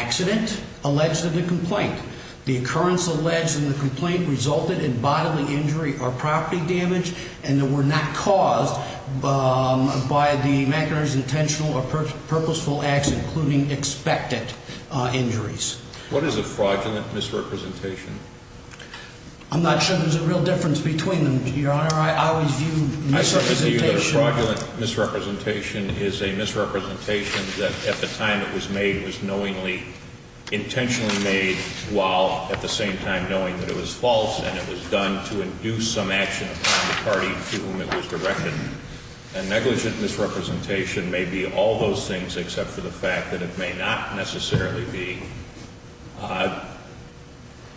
Accident alleged in the complaint. The occurrence alleged in the complaint resulted in bodily injury or property damage and were not caused by the McInerney's intentional or purposeful acts, including expected injuries. What is a fraudulent misrepresentation? I'm not sure there's a real difference between them, Your Honor. I always view misrepresentation... intentionally made while at the same time knowing that it was false and it was done to induce some action upon the party to whom it was directed. A negligent misrepresentation may be all those things except for the fact that it may not necessarily be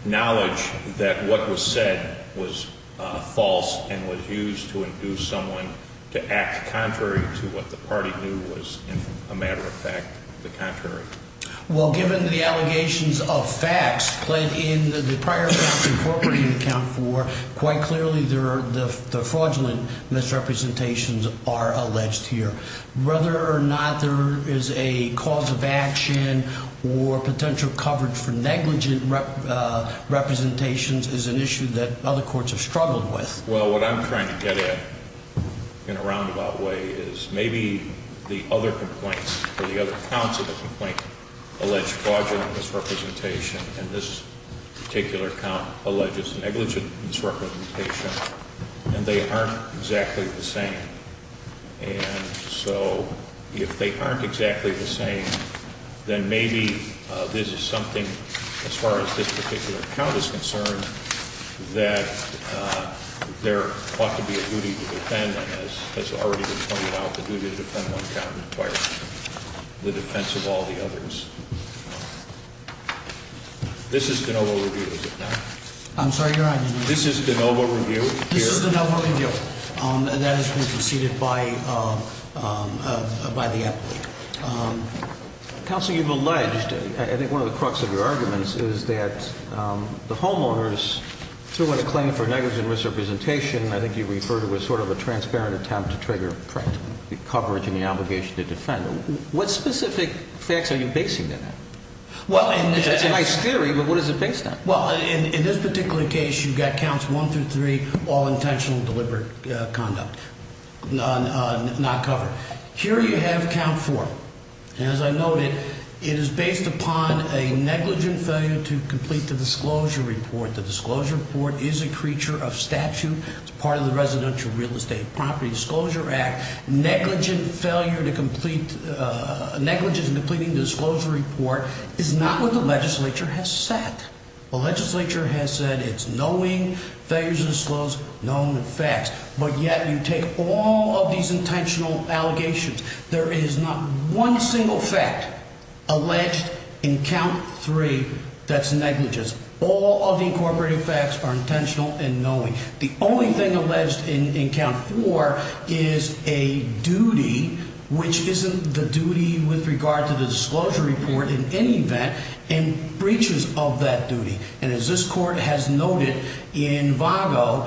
knowledge that what was said was false and was used to induce someone to act contrary to what the party knew was, in a matter of fact, the contrary. Well, given the allegations of facts played in the prior counts incorporated in Count 4, quite clearly the fraudulent misrepresentations are alleged here. Whether or not there is a cause of action or potential coverage for negligent representations is an issue that other courts have struggled with. Well, what I'm trying to get at in a roundabout way is maybe the other complaints or the other counts of the complaint allege fraudulent misrepresentation and this particular count alleges negligent misrepresentation and they aren't exactly the same. And so, if they aren't exactly the same, then maybe this is something, as far as this particular count is concerned, that there ought to be a duty to defend. And as has already been pointed out, the duty to defend one count requires the defense of all the others. This is DeNovo Review, is it not? I'm sorry, Your Honor. This is DeNovo Review. This is DeNovo Review. And that has been preceded by the applicant. Counsel, you've alleged, I think one of the crux of your arguments is that the homeowners, through what a claim for negligent misrepresentation, I think you refer to as sort of a transparent attempt to trigger coverage and the obligation to defend. What specific facts are you basing that on? It's a nice theory, but what is it based on? Well, in this particular case, you've got counts one through three, all intentional deliberate conduct, not covered. Here you have count four. As I noted, it is based upon a negligent failure to complete the disclosure report. The disclosure report is a creature of statute. It's part of the Residential Real Estate Property Disclosure Act. Negligent failure to complete, negligent in completing the disclosure report is not what the legislature has said. The legislature has said it's knowing failures to disclose known facts. But yet you take all of these intentional allegations. There is not one single fact alleged in count three that's negligent. All of the incorporated facts are intentional and knowing. The only thing alleged in count four is a duty, which isn't the duty with regard to the disclosure report in any event, and breaches of that duty. And as this court has noted, in VAGO,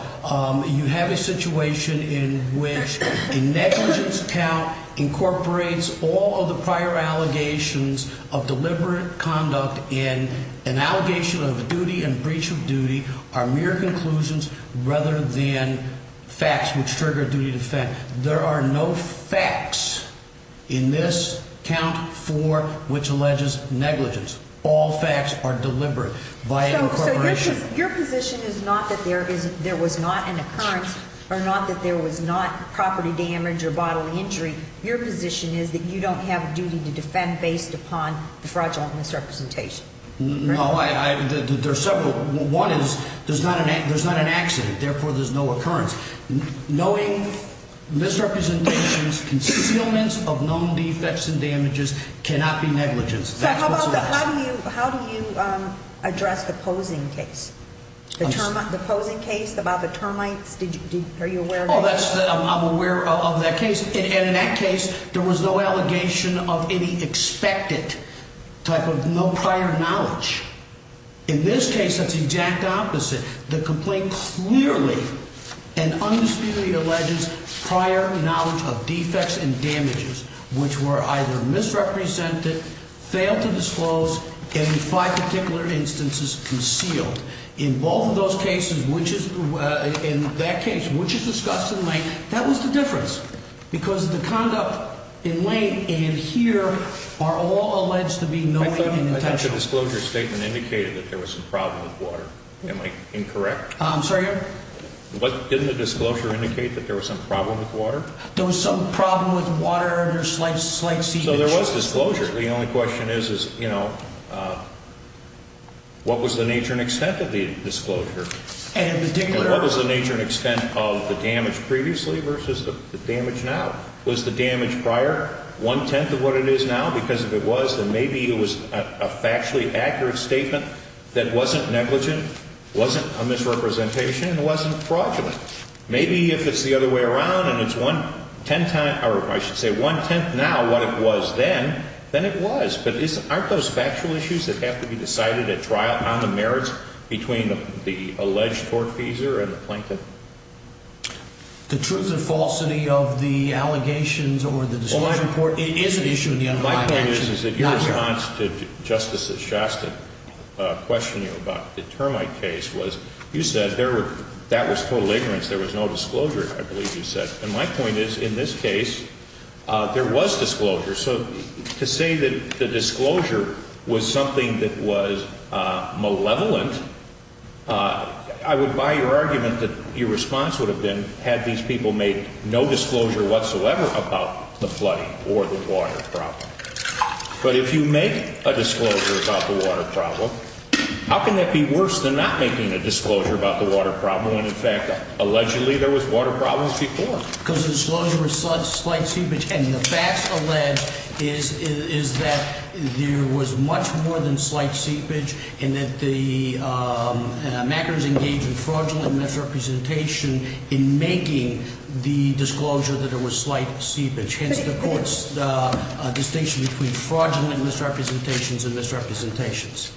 you have a situation in which a negligence count incorporates all of the prior allegations of deliberate conduct and an allegation of duty and breach of duty are mere conclusions rather than facts which trigger a duty to defend. There are no facts in this count four which alleges negligence. All facts are deliberate via incorporation. So your position is not that there was not an occurrence or not that there was not property damage or bodily injury. Your position is that you don't have a duty to defend based upon the fraudulent misrepresentation. No, there are several. One is there's not an accident, therefore there's no occurrence. Knowing misrepresentations, concealments of known defects and damages cannot be negligence. So how do you address the posing case? The posing case about the termites? Are you aware of that? Oh, I'm aware of that case. And in that case, there was no allegation of any expected type of no prior knowledge. In this case, that's the exact opposite. The complaint clearly and undisputedly alleges prior knowledge of defects and damages which were either misrepresented, failed to disclose, and in five particular instances concealed. In both of those cases, which is in that case, which is discussed in late, that was the difference. Because the conduct in late and here are all alleged to be knowing and intentional. The disclosure statement indicated that there was a problem with water. Am I incorrect? I'm sorry, Your Honor? Didn't the disclosure indicate that there was some problem with water? There was some problem with water and there's slight seepage. So there was disclosure. The only question is, you know, what was the nature and extent of the disclosure? And in particular. And what was the nature and extent of the damage previously versus the damage now? Was the damage prior one-tenth of what it is now? Because if it was, then maybe it was a factually accurate statement that wasn't negligent, wasn't a misrepresentation, and wasn't fraudulent. Maybe if it's the other way around and it's one-tenth, or I should say one-tenth now what it was then, then it was. But aren't those factual issues that have to be decided at trial on the merits between the alleged tortfeasor and the plaintiff? The truth and falsity of the allegations or the disclosure. My point is, is that your response to Justice Shastin questioning about the termite case was, you said that was total ignorance. There was no disclosure, I believe you said. And my point is, in this case, there was disclosure. So to say that the disclosure was something that was malevolent, I would buy your argument that your response would have been, had these people made no disclosure whatsoever about the flooding or the water problem. But if you make a disclosure about the water problem, how can that be worse than not making a disclosure about the water problem when, in fact, allegedly there was water problems before? Because the disclosure was slight seepage. And the facts allege is that there was much more than slight seepage and that the mackers engaged in fraudulent misrepresentation in making the disclosure that there was slight seepage. Hence, the court's distinction between fraudulent misrepresentations and misrepresentations.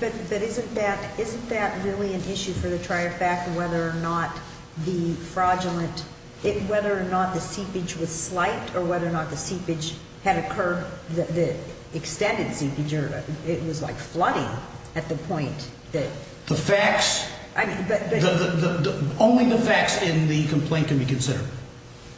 But isn't that really an issue for the trier fact whether or not the fraudulent, whether or not the seepage was slight or whether or not the seepage had occurred, the extended seepage, or it was like flooding at the point that. The facts, only the facts in the complaint can be considered.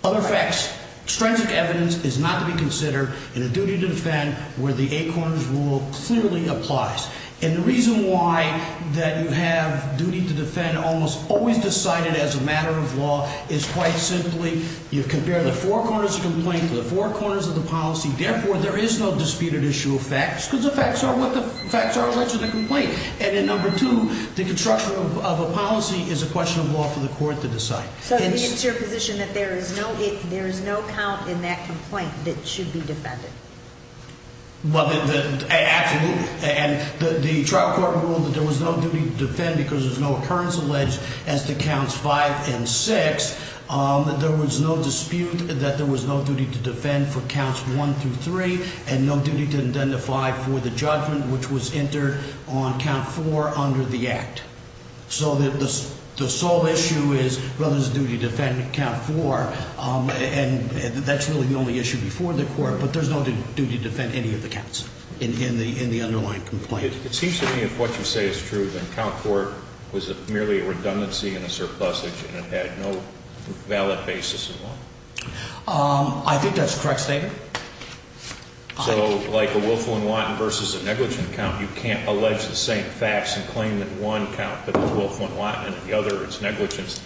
Other facts, stringent evidence is not to be considered in a duty to defend where the eight corners rule clearly applies. And the reason why that you have duty to defend almost always decided as a matter of law is quite simply you compare the four corners of the complaint to the four corners of the policy. Therefore, there is no disputed issue of facts because the facts are what the facts are alleged in the complaint. And then number two, the construction of a policy is a question of law for the court to decide. So it's your position that there is no, there is no count in that complaint that should be defended. Well, absolutely. And the trial court ruled that there was no duty to defend because there's no occurrence alleged as to counts five and six. There was no dispute that there was no duty to defend for counts one through three and no duty to identify for the judgment, which was entered on count four under the act. So the sole issue is whether there's a duty to defend count four. And that's really the only issue before the court. But there's no duty to defend any of the counts in the underlying complaint. It seems to me if what you say is true, then count four was merely a redundancy and a surplusage and it had no valid basis at all. I think that's a correct statement. So like a willful and wanton versus a negligent count, you can't allege the same facts and claim that one count is willful and wanton and the other is negligent.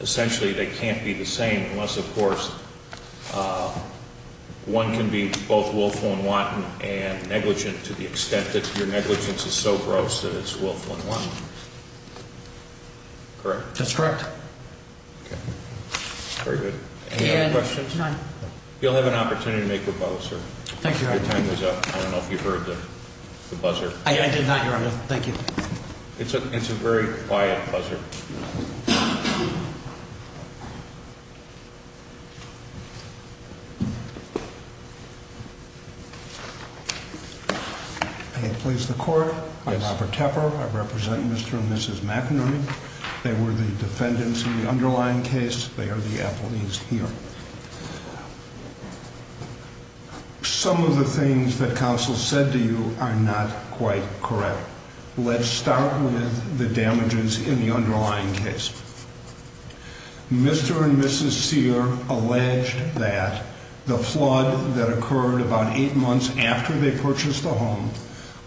Essentially, they can't be the same unless, of course, one can be both willful and wanton and negligent to the extent that your negligence is so gross that it's willful and wanton. Correct? That's correct. Okay. Very good. Any other questions? None. You'll have an opportunity to make your vote, sir. Thank you, Your Honor. Your time is up. I don't know if you heard the buzzer. I did not, Your Honor. Thank you. It's a very quiet buzzer. May it please the Court, I'm Robert Tepper. I represent Mr. and Mrs. McInerney. They were the defendants in the underlying case. They are the appellees here. Some of the things that counsel said to you are not quite correct. Let's start with the damages in the underlying case. Mr. and Mrs. Sear alleged that the flood that occurred about eight months after they purchased the home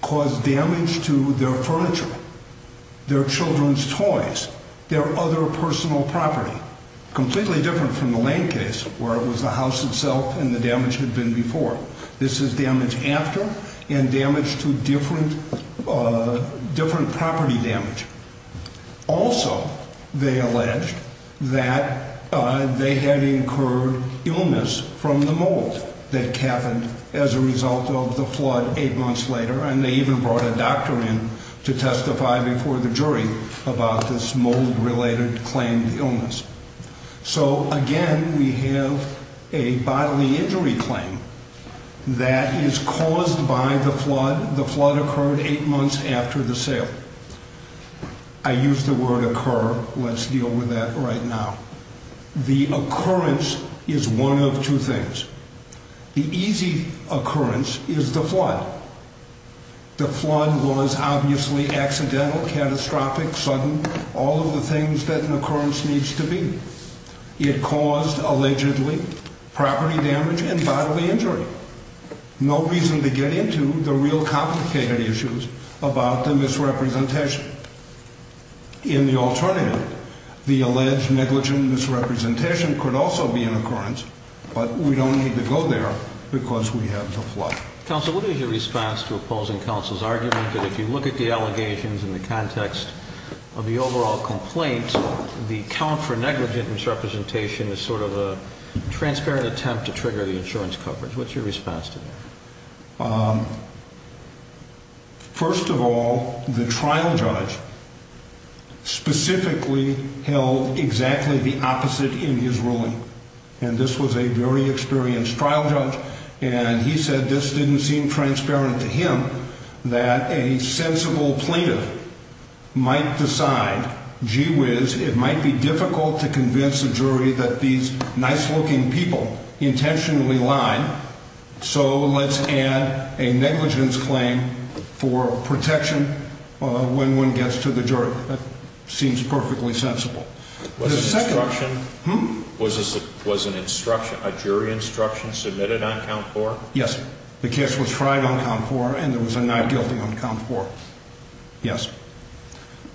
caused damage to their furniture, their children's toys, their other personal property. Completely different from the Lane case where it was the house itself and the damage had been before. This is damage after and damage to different property damage. Also, they alleged that they had incurred illness from the mold that happened as a result of the flood eight months later. And they even brought a doctor in to testify before the jury about this mold-related claimed illness. So, again, we have a bodily injury claim that is caused by the flood. The flood occurred eight months after the sale. I use the word occur. Let's deal with that right now. The occurrence is one of two things. The easy occurrence is the flood. The flood was obviously accidental, catastrophic, sudden, all of the things that an occurrence needs to be. It caused, allegedly, property damage and bodily injury. No reason to get into the real complicated issues about the misrepresentation. In the alternative, the alleged negligent misrepresentation could also be an occurrence, but we don't need to go there because we have the flood. Counsel, what is your response to opposing counsel's argument that if you look at the allegations in the context of the overall complaint, the count for negligent misrepresentation is sort of a transparent attempt to trigger the insurance coverage? What's your response to that? First of all, the trial judge specifically held exactly the opposite in his ruling, and this was a very experienced trial judge, and he said this didn't seem transparent to him that a sensible plaintiff might decide, gee whiz, it might be difficult to convince a jury that these nice-looking people intentionally lied, so let's add a negligence claim for protection when one gets to the jury. That seems perfectly sensible. Was an instruction, a jury instruction submitted on count four? Yes. The case was tried on count four, and there was a not guilty on count four. Yes.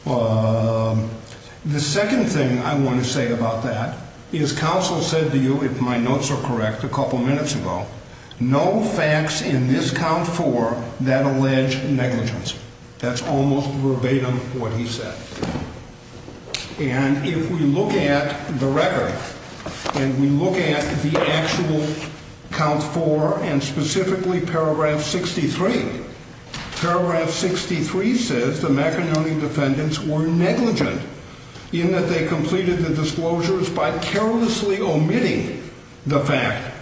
The second thing I want to say about that is counsel said to you, if my notes are correct, a couple minutes ago, no facts in this count four that allege negligence. That's almost verbatim what he said. And if we look at the record and we look at the actual count four and specifically paragraph 63, paragraph 63 says the McInerney defendants were negligent in that they completed the disclosures by carelessly omitting the fact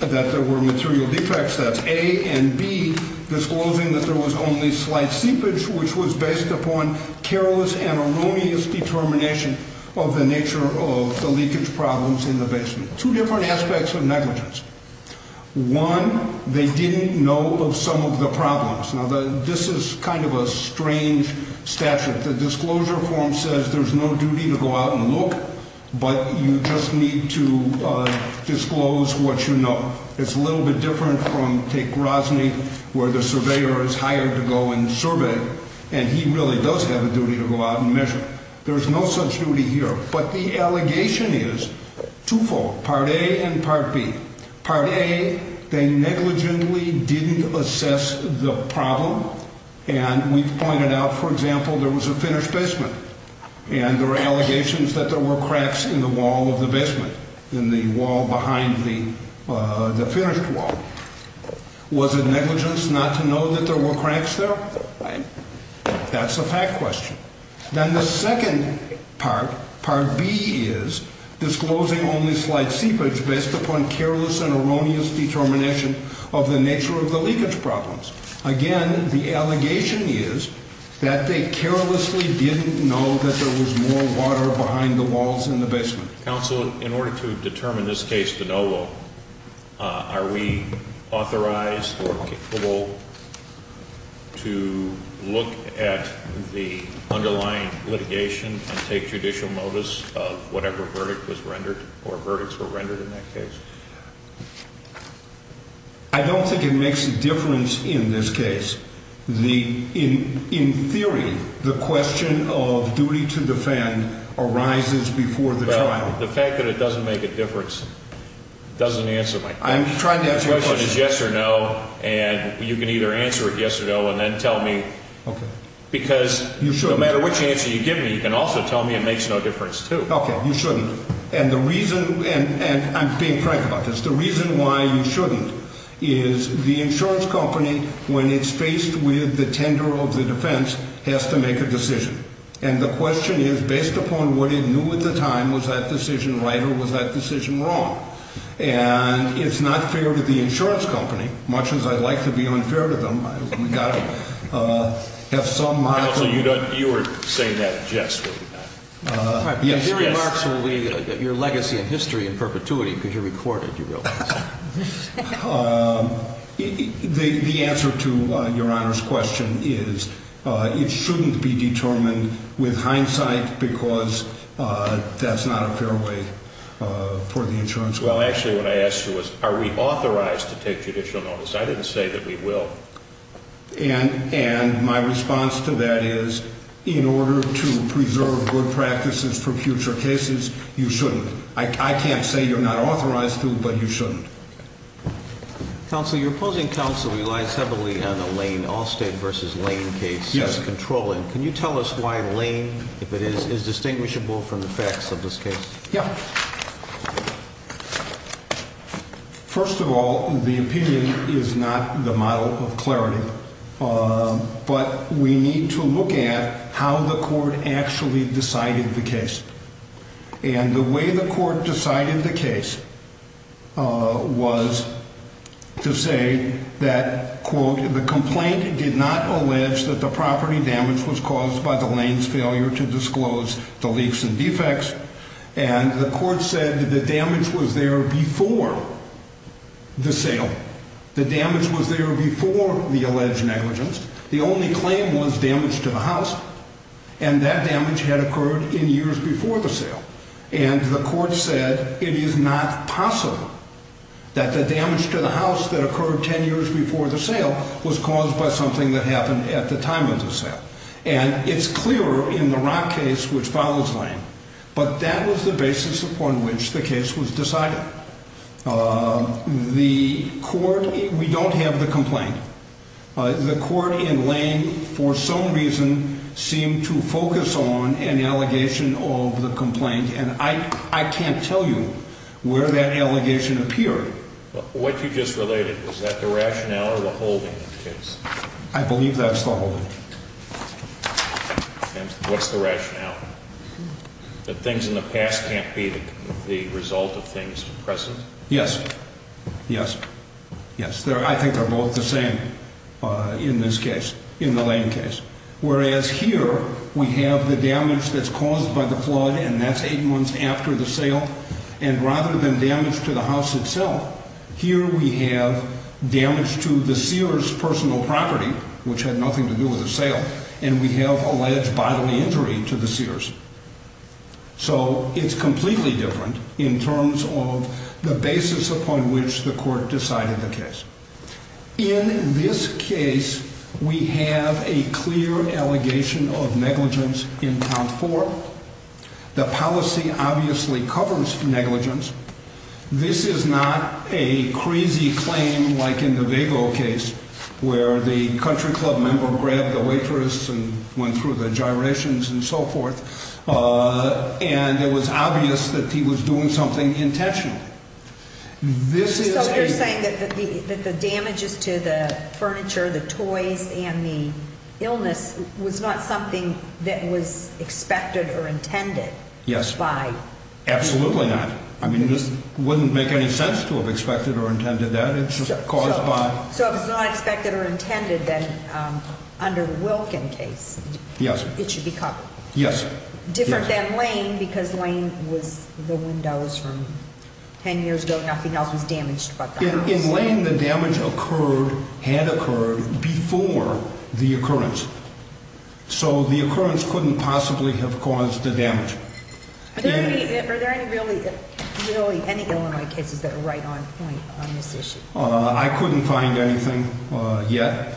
that there were material defects. That's A and B, disclosing that there was only slight seepage, which was based upon careless and erroneous determination of the nature of the leakage problems in the basement. Two different aspects of negligence. One, they didn't know of some of the problems. Now, this is kind of a strange statute. The disclosure form says there's no duty to go out and look, but you just need to disclose what you know. It's a little bit different from, take Rosny, where the surveyor is hired to go and survey, and he really does have a duty to go out and measure. There's no such duty here, but the allegation is twofold, part A and part B. Part A, they negligently didn't assess the problem, and we've pointed out, for example, there was a finished basement, and there are allegations that there were cracks in the wall of the basement, in the wall behind the finished wall. Was it negligence not to know that there were cracks there? That's a fact question. Then the second part, part B, is disclosing only slight seepage based upon careless and erroneous determination of the nature of the leakage problems. Again, the allegation is that they carelessly didn't know that there was more water behind the walls in the basement. Counsel, in order to determine this case to no vote, are we authorized or capable to look at the underlying litigation and take judicial notice of whatever verdict was rendered or verdicts were rendered in that case? I don't think it makes a difference in this case. In theory, the question of duty to defend arises before the trial. The fact that it doesn't make a difference doesn't answer my question. I'm trying to answer your question. The question is yes or no, and you can either answer it yes or no and then tell me. Okay. Because no matter which answer you give me, you can also tell me it makes no difference, too. Okay, you shouldn't. And the reason, and I'm being frank about this, the reason why you shouldn't is the insurance company, when it's faced with the tender of the defense, has to make a decision. And the question is, based upon what it knew at the time, was that decision right or was that decision wrong? And it's not fair to the insurance company, much as I'd like to be unfair to them. We've got to have some model. Your very marks will be your legacy in history in perpetuity because you're recorded, you realize. The answer to Your Honor's question is it shouldn't be determined with hindsight because that's not a fair way for the insurance company. Well, actually, what I asked you was are we authorized to take judicial notice. I didn't say that we will. And my response to that is in order to preserve good practices for future cases, you shouldn't. I can't say you're not authorized to, but you shouldn't. Counsel, your opposing counsel relies heavily on the Lane Allstate v. Lane case as controlling. Can you tell us why Lane, if it is, is distinguishable from the facts of this case? Yeah. First of all, the opinion is not the model of clarity. But we need to look at how the court actually decided the case. And the way the court decided the case was to say that, quote, the complaint did not allege that the property damage was caused by the Lane's failure to disclose the leaks and defects. And the court said the damage was there before the sale. The damage was there before the alleged negligence. The only claim was damage to the house, and that damage had occurred in years before the sale. And the court said it is not possible that the damage to the house that occurred 10 years before the sale was caused by something that happened at the time of the sale. And it's clearer in the Rock case, which follows Lane. But that was the basis upon which the case was decided. The court, we don't have the complaint. The court in Lane, for some reason, seemed to focus on an allegation of the complaint. And I can't tell you where that allegation appeared. What you just related, was that the rationale or the holding of the case? I believe that's the holding. What's the rationale? That things in the past can't be the result of things present? Yes. Yes. Yes. I think they're both the same in this case, in the Lane case. Whereas here, we have the damage that's caused by the flood, and that's eight months after the sale. And rather than damage to the house itself, here we have damage to the seer's personal property, which had nothing to do with the sale. And we have alleged bodily injury to the seer's. So, it's completely different in terms of the basis upon which the court decided the case. In this case, we have a clear allegation of negligence in count four. The policy obviously covers negligence. This is not a crazy claim like in the Vago case, where the country club member grabbed the waitress and went through the gyrations and so forth. And it was obvious that he was doing something intentional. So, you're saying that the damages to the furniture, the toys, and the illness was not something that was expected or intended? Yes. By? Absolutely not. I mean, this wouldn't make any sense to have expected or intended that. It's just caused by. So, if it's not expected or intended, then under the Wilkin case, it should be called? Yes. Different than Lane, because Lane was the windows from ten years ago. Nothing else was damaged but the house. In Lane, the damage had occurred before the occurrence. So, the occurrence couldn't possibly have caused the damage. Are there really any Illinois cases that are right on point on this issue? I couldn't find anything yet.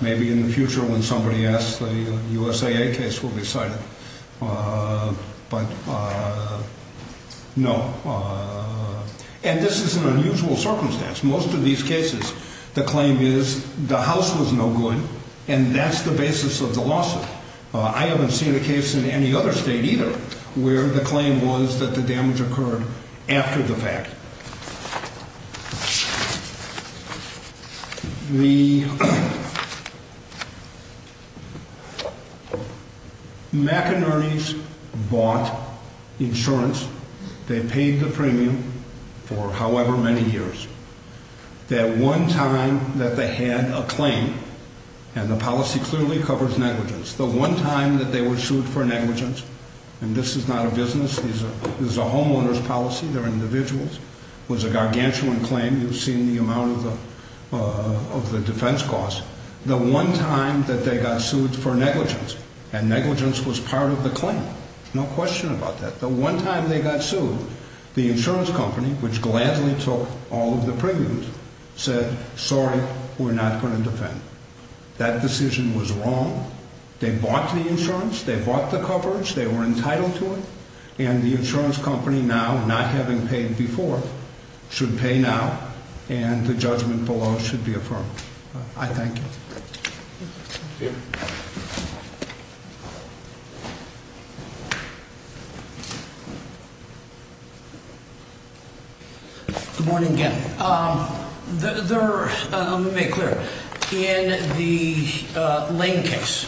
Maybe in the future when somebody asks, the USAA case will be cited. But, no. And this is an unusual circumstance. Most of these cases, the claim is the house was no good and that's the basis of the lawsuit. I haven't seen a case in any other state either where the claim was that the damage occurred after the fact. The McInerney's bought insurance. They paid the premium for however many years. That one time that they had a claim, and the policy clearly covers negligence. The one time that they were sued for negligence, and this is not a business, this is a homeowner's policy. They're individuals. It was a gargantuan claim. You've seen the amount of the defense costs. The one time that they got sued for negligence, and negligence was part of the claim. No question about that. The one time they got sued, the insurance company, which gladly took all of the premiums, said, sorry, we're not going to defend. That decision was wrong. They bought the insurance. They bought the coverage. They were entitled to it. And the insurance company now, not having paid before, should pay now, and the judgment below should be affirmed. I thank you. Good morning again. Let me make it clear. In the Lane case,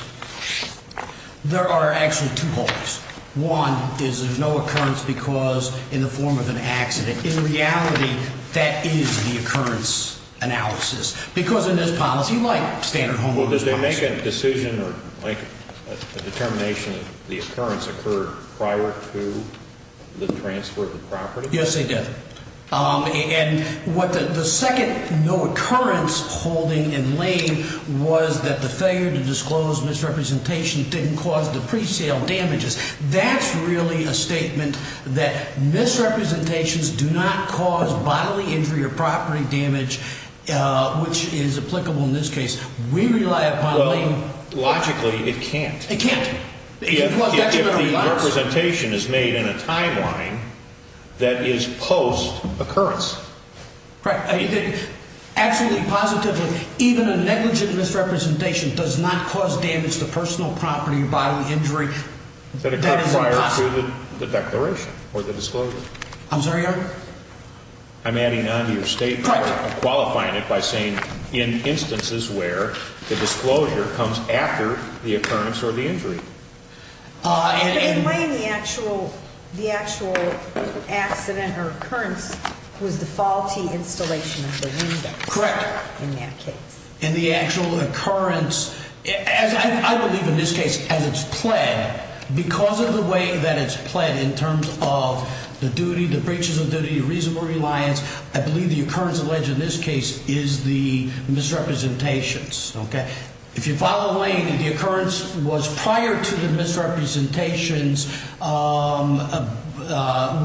there are actually two holes. One is there's no occurrence because in the form of an accident. In reality, that is the occurrence analysis. Because in this policy, like standard homeowners policy. Well, did they make a decision or like a determination that the occurrence occurred prior to the transfer of the property? Yes, they did. And the second no occurrence holding in Lane was that the failure to disclose misrepresentation didn't cause the presale damages. That's really a statement that misrepresentations do not cause bodily injury or property damage, which is applicable in this case. We rely upon Lane. Logically, it can't. It can't. If the representation is made in a timeline that is post occurrence. Right. Absolutely. Positive. Even a negligent misrepresentation does not cause damage to personal property or bodily injury prior to the declaration or the disclosure. I'm sorry. I'm adding on to your statement. Correct. Qualifying it by saying in instances where the disclosure comes after the occurrence or the injury. In Lane, the actual accident or occurrence was the faulty installation of the window. Correct. In that case. And the actual occurrence, as I believe in this case, as it's planned because of the way that it's planned in terms of the duty, the breaches of duty, reasonable reliance. I believe the occurrence alleged in this case is the misrepresentations. Okay. If you follow Lane, the occurrence was prior to the misrepresentations,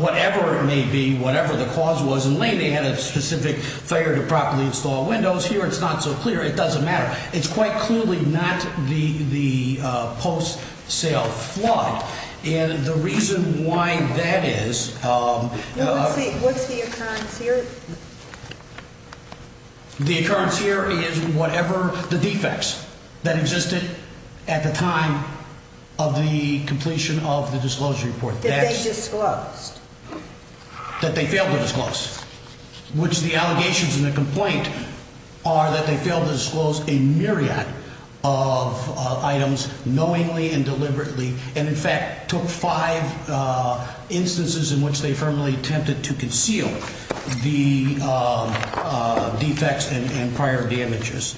whatever it may be, whatever the cause was in Lane. They had a specific failure to properly install windows here. It's not so clear. It doesn't matter. It's quite clearly not the post sale flood. And the reason why that is. What's the occurrence here? The occurrence here is whatever the defects that existed at the time of the completion of the disclosure report. That they disclosed. That they failed to disclose. Which the allegations in the complaint are that they failed to disclose a myriad of items knowingly and deliberately. And, in fact, took five instances in which they firmly attempted to conceal the defects and prior damages.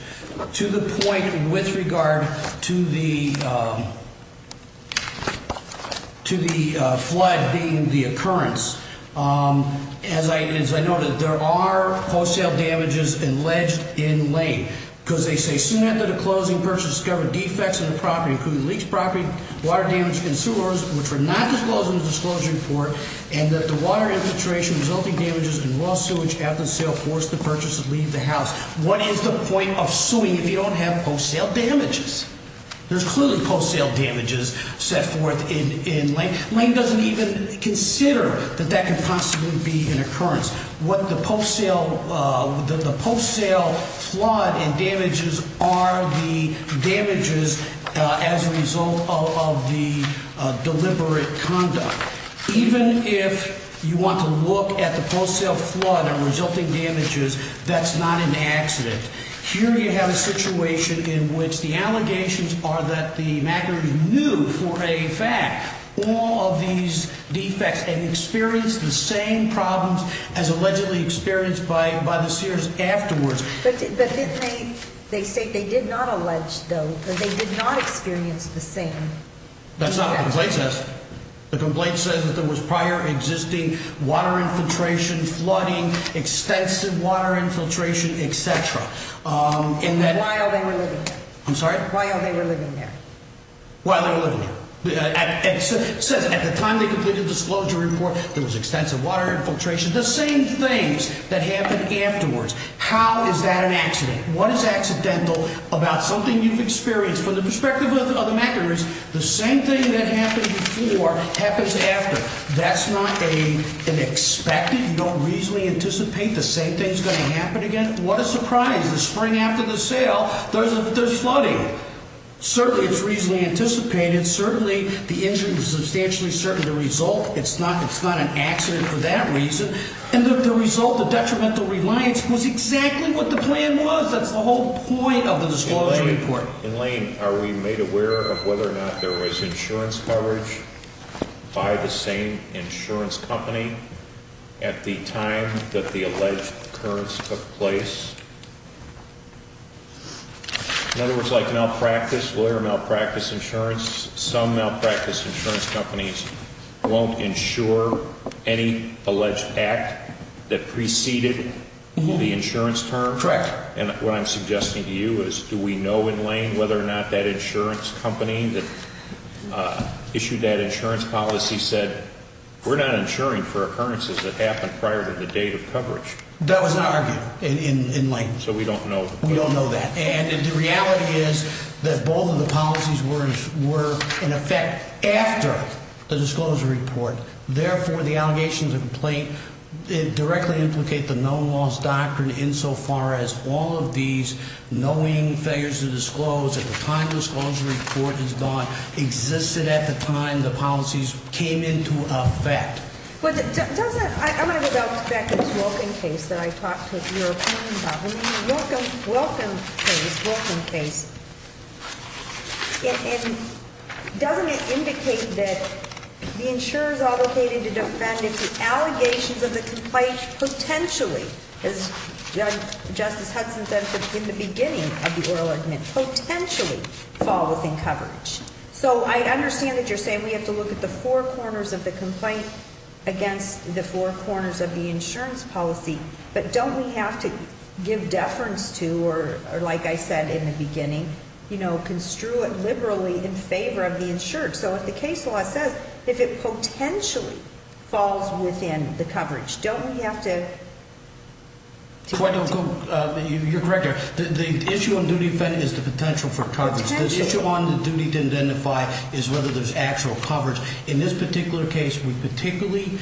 To the point with regard to the flood being the occurrence. As I noted, there are post sale damages alleged in Lane. Because they say soon after the closing purchase discovered defects in the property, including leaked property, water damage in sewers, which were not disclosed in the disclosure report. And that the water infiltration resulting damages in raw sewage after the sale forced the purchase to leave the house. What is the point of suing if you don't have post sale damages? There's clearly post sale damages set forth in Lane. Lane doesn't even consider that that could possibly be an occurrence. What the post sale flood and damages are the damages as a result of the deliberate conduct. Even if you want to look at the post sale flood and resulting damages, that's not an accident. Here you have a situation in which the allegations are that the macker knew for a fact all of these defects and experienced the same problems as allegedly experienced by the sewers afterwards. But didn't they, they say they did not allege, though, that they did not experience the same. That's not what the complaint says. The complaint says that there was prior existing water infiltration, flooding, extensive water infiltration, et cetera. And then while they were living there. I'm sorry? While they were living there. While they were living there. It says at the time they completed the disclosure report, there was extensive water infiltration, the same things that happened afterwards. How is that an accident? What is accidental about something you've experienced? From the perspective of the mackers, the same thing that happened before happens after. That's not an expected. You don't reasonably anticipate the same thing's going to happen again. What a surprise. The spring after the sale, there's flooding. Certainly, it's reasonably anticipated. Certainly, the injury was substantially certain. The result, it's not an accident for that reason. And the result, the detrimental reliance was exactly what the plan was. That's the whole point of the disclosure report. In Lane, are we made aware of whether or not there was insurance coverage by the same insurance company at the time that the alleged occurrence took place? In other words, like malpractice, lawyer malpractice insurance, some malpractice insurance companies won't insure any alleged act that preceded the insurance term? Correct. And what I'm suggesting to you is do we know in Lane whether or not that insurance company that issued that insurance policy said, we're not insuring for occurrences that happened prior to the date of coverage? That was not argued in Lane. So we don't know. We don't know that. And the reality is that both of the policies were in effect after the disclosure report. Therefore, the allegations of complaint directly implicate the known loss doctrine insofar as all of these knowing failures to disclose at the time the disclosure report is gone existed at the time the policies came into effect. I'm going to go back to this Wilken case that I talked to your opponent about. When you hear Wilken case, Wilken case, doesn't it indicate that the insurers are located to defend if the allegations of the complaint potentially, as Justice Hudson said in the beginning of the oral argument, potentially fall within coverage? So I understand that you're saying we have to look at the four corners of the complaint against the four corners of the insurance policy. But don't we have to give deference to, or like I said in the beginning, you know, construe it liberally in favor of the insured. So if the case law says if it potentially falls within the coverage, don't we have to? You're correct there. The issue on duty to defend is the potential for coverage. The issue on the duty to identify is whether there's actual coverage. In this particular case, we particularly,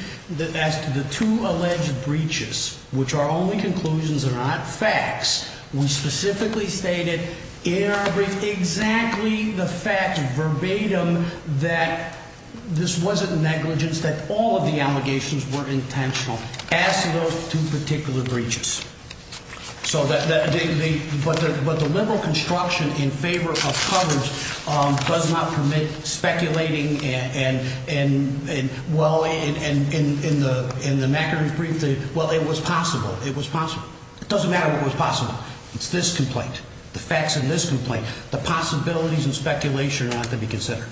as to the two alleged breaches, which are only conclusions and not facts, we specifically stated in our brief exactly the fact verbatim that this wasn't negligence, that all of the allegations were intentional. As to those two particular breaches. But the liberal construction in favor of coverage does not permit speculating and, well, in the McInerney brief, well, it was possible. It was possible. It doesn't matter what was possible. It's this complaint. The facts of this complaint. The possibilities and speculation are not to be considered.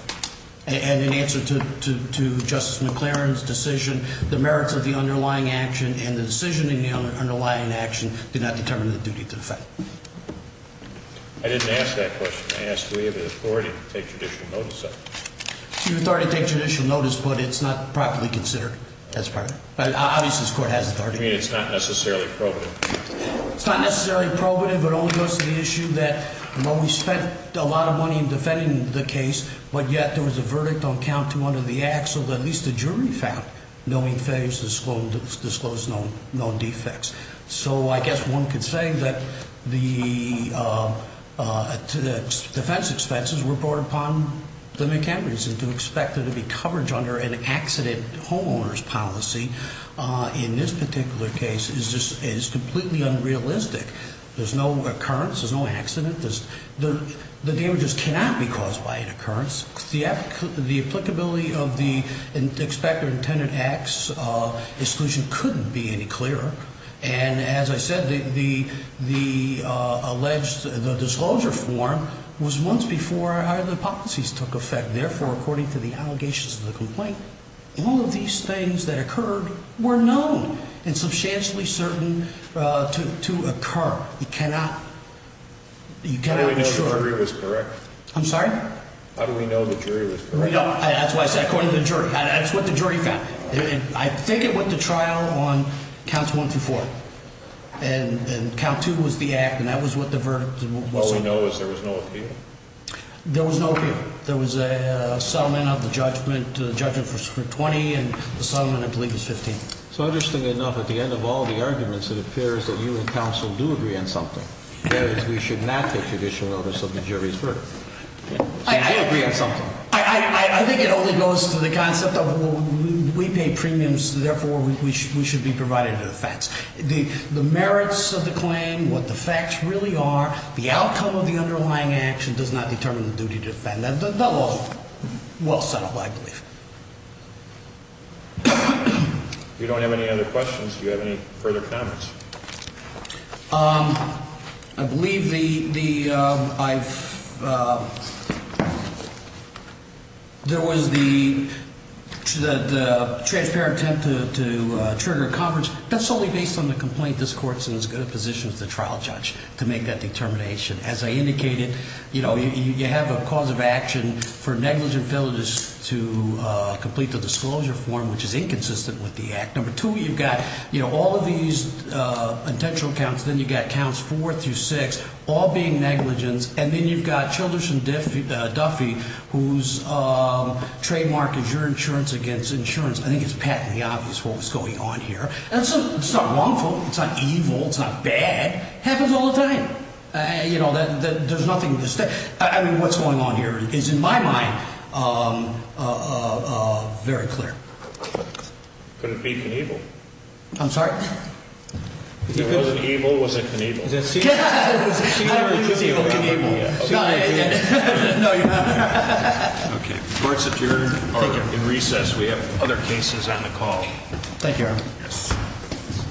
And in answer to Justice McClaren's decision, the merits of the underlying action and the decision in the underlying action did not determine the duty to defend. I didn't ask that question. I asked, do we have the authority to take judicial notice of it? You have the authority to take judicial notice, but it's not properly considered. That's part of it. Obviously, this court has authority. You mean it's not necessarily probative? It's not necessarily probative. It only goes to the issue that, well, we spent a lot of money in defending the case, but yet there was a verdict on count two under the act. So at least the jury found no main failures disclosed, no defects. So I guess one could say that the defense expenses were brought upon the McHenry's. And to expect there to be coverage under an accident homeowner's policy in this particular case is completely unrealistic. There's no occurrence. There's no accident. The damages cannot be caused by an occurrence. The applicability of the expected or intended acts exclusion couldn't be any clearer. And as I said, the alleged disclosure form was once before either policies took effect. Therefore, according to the allegations of the complaint, all of these things that occurred were known and substantially certain to occur. How do we know the jury was correct? I'm sorry? How do we know the jury was correct? That's what I said, according to the jury. That's what the jury found. I think it went to trial on counts one through four. And count two was the act, and that was what the verdict was. All we know is there was no appeal? There was no appeal. There was a settlement of the judgment for 20, and the settlement, I believe, was 15. So interestingly enough, at the end of all the arguments, it appears that you and counsel do agree on something. That is, we should not take judicial notice of the jury's verdict. Do you agree on something? I think it only goes to the concept of we pay premiums, therefore we should be provided with facts. The merits of the claim, what the facts really are, the outcome of the underlying action does not determine the duty to defend. The law is well settled, I believe. If you don't have any other questions, do you have any further comments? I believe there was the transparent attempt to trigger a conference. That's solely based on the complaint. This court is in as good a position as the trial judge to make that determination. As I indicated, you have a cause of action for negligent felonies to complete the disclosure form, which is inconsistent with the act. Number two, you've got all of these potential counts. Then you've got counts four through six, all being negligence. And then you've got Childers and Duffy, whose trademark is your insurance against insurance. I think it's patently obvious what was going on here. It's not wrongful. It's not evil. It's not bad. It happens all the time. There's nothing to say. What's going on here is, in my mind, very clear. Could it be Knievel? I'm sorry? If it wasn't evil, was it Knievel? It could be Knievel. No, you're not. The court's adjourned. Thank you. Thank you, Your Honor.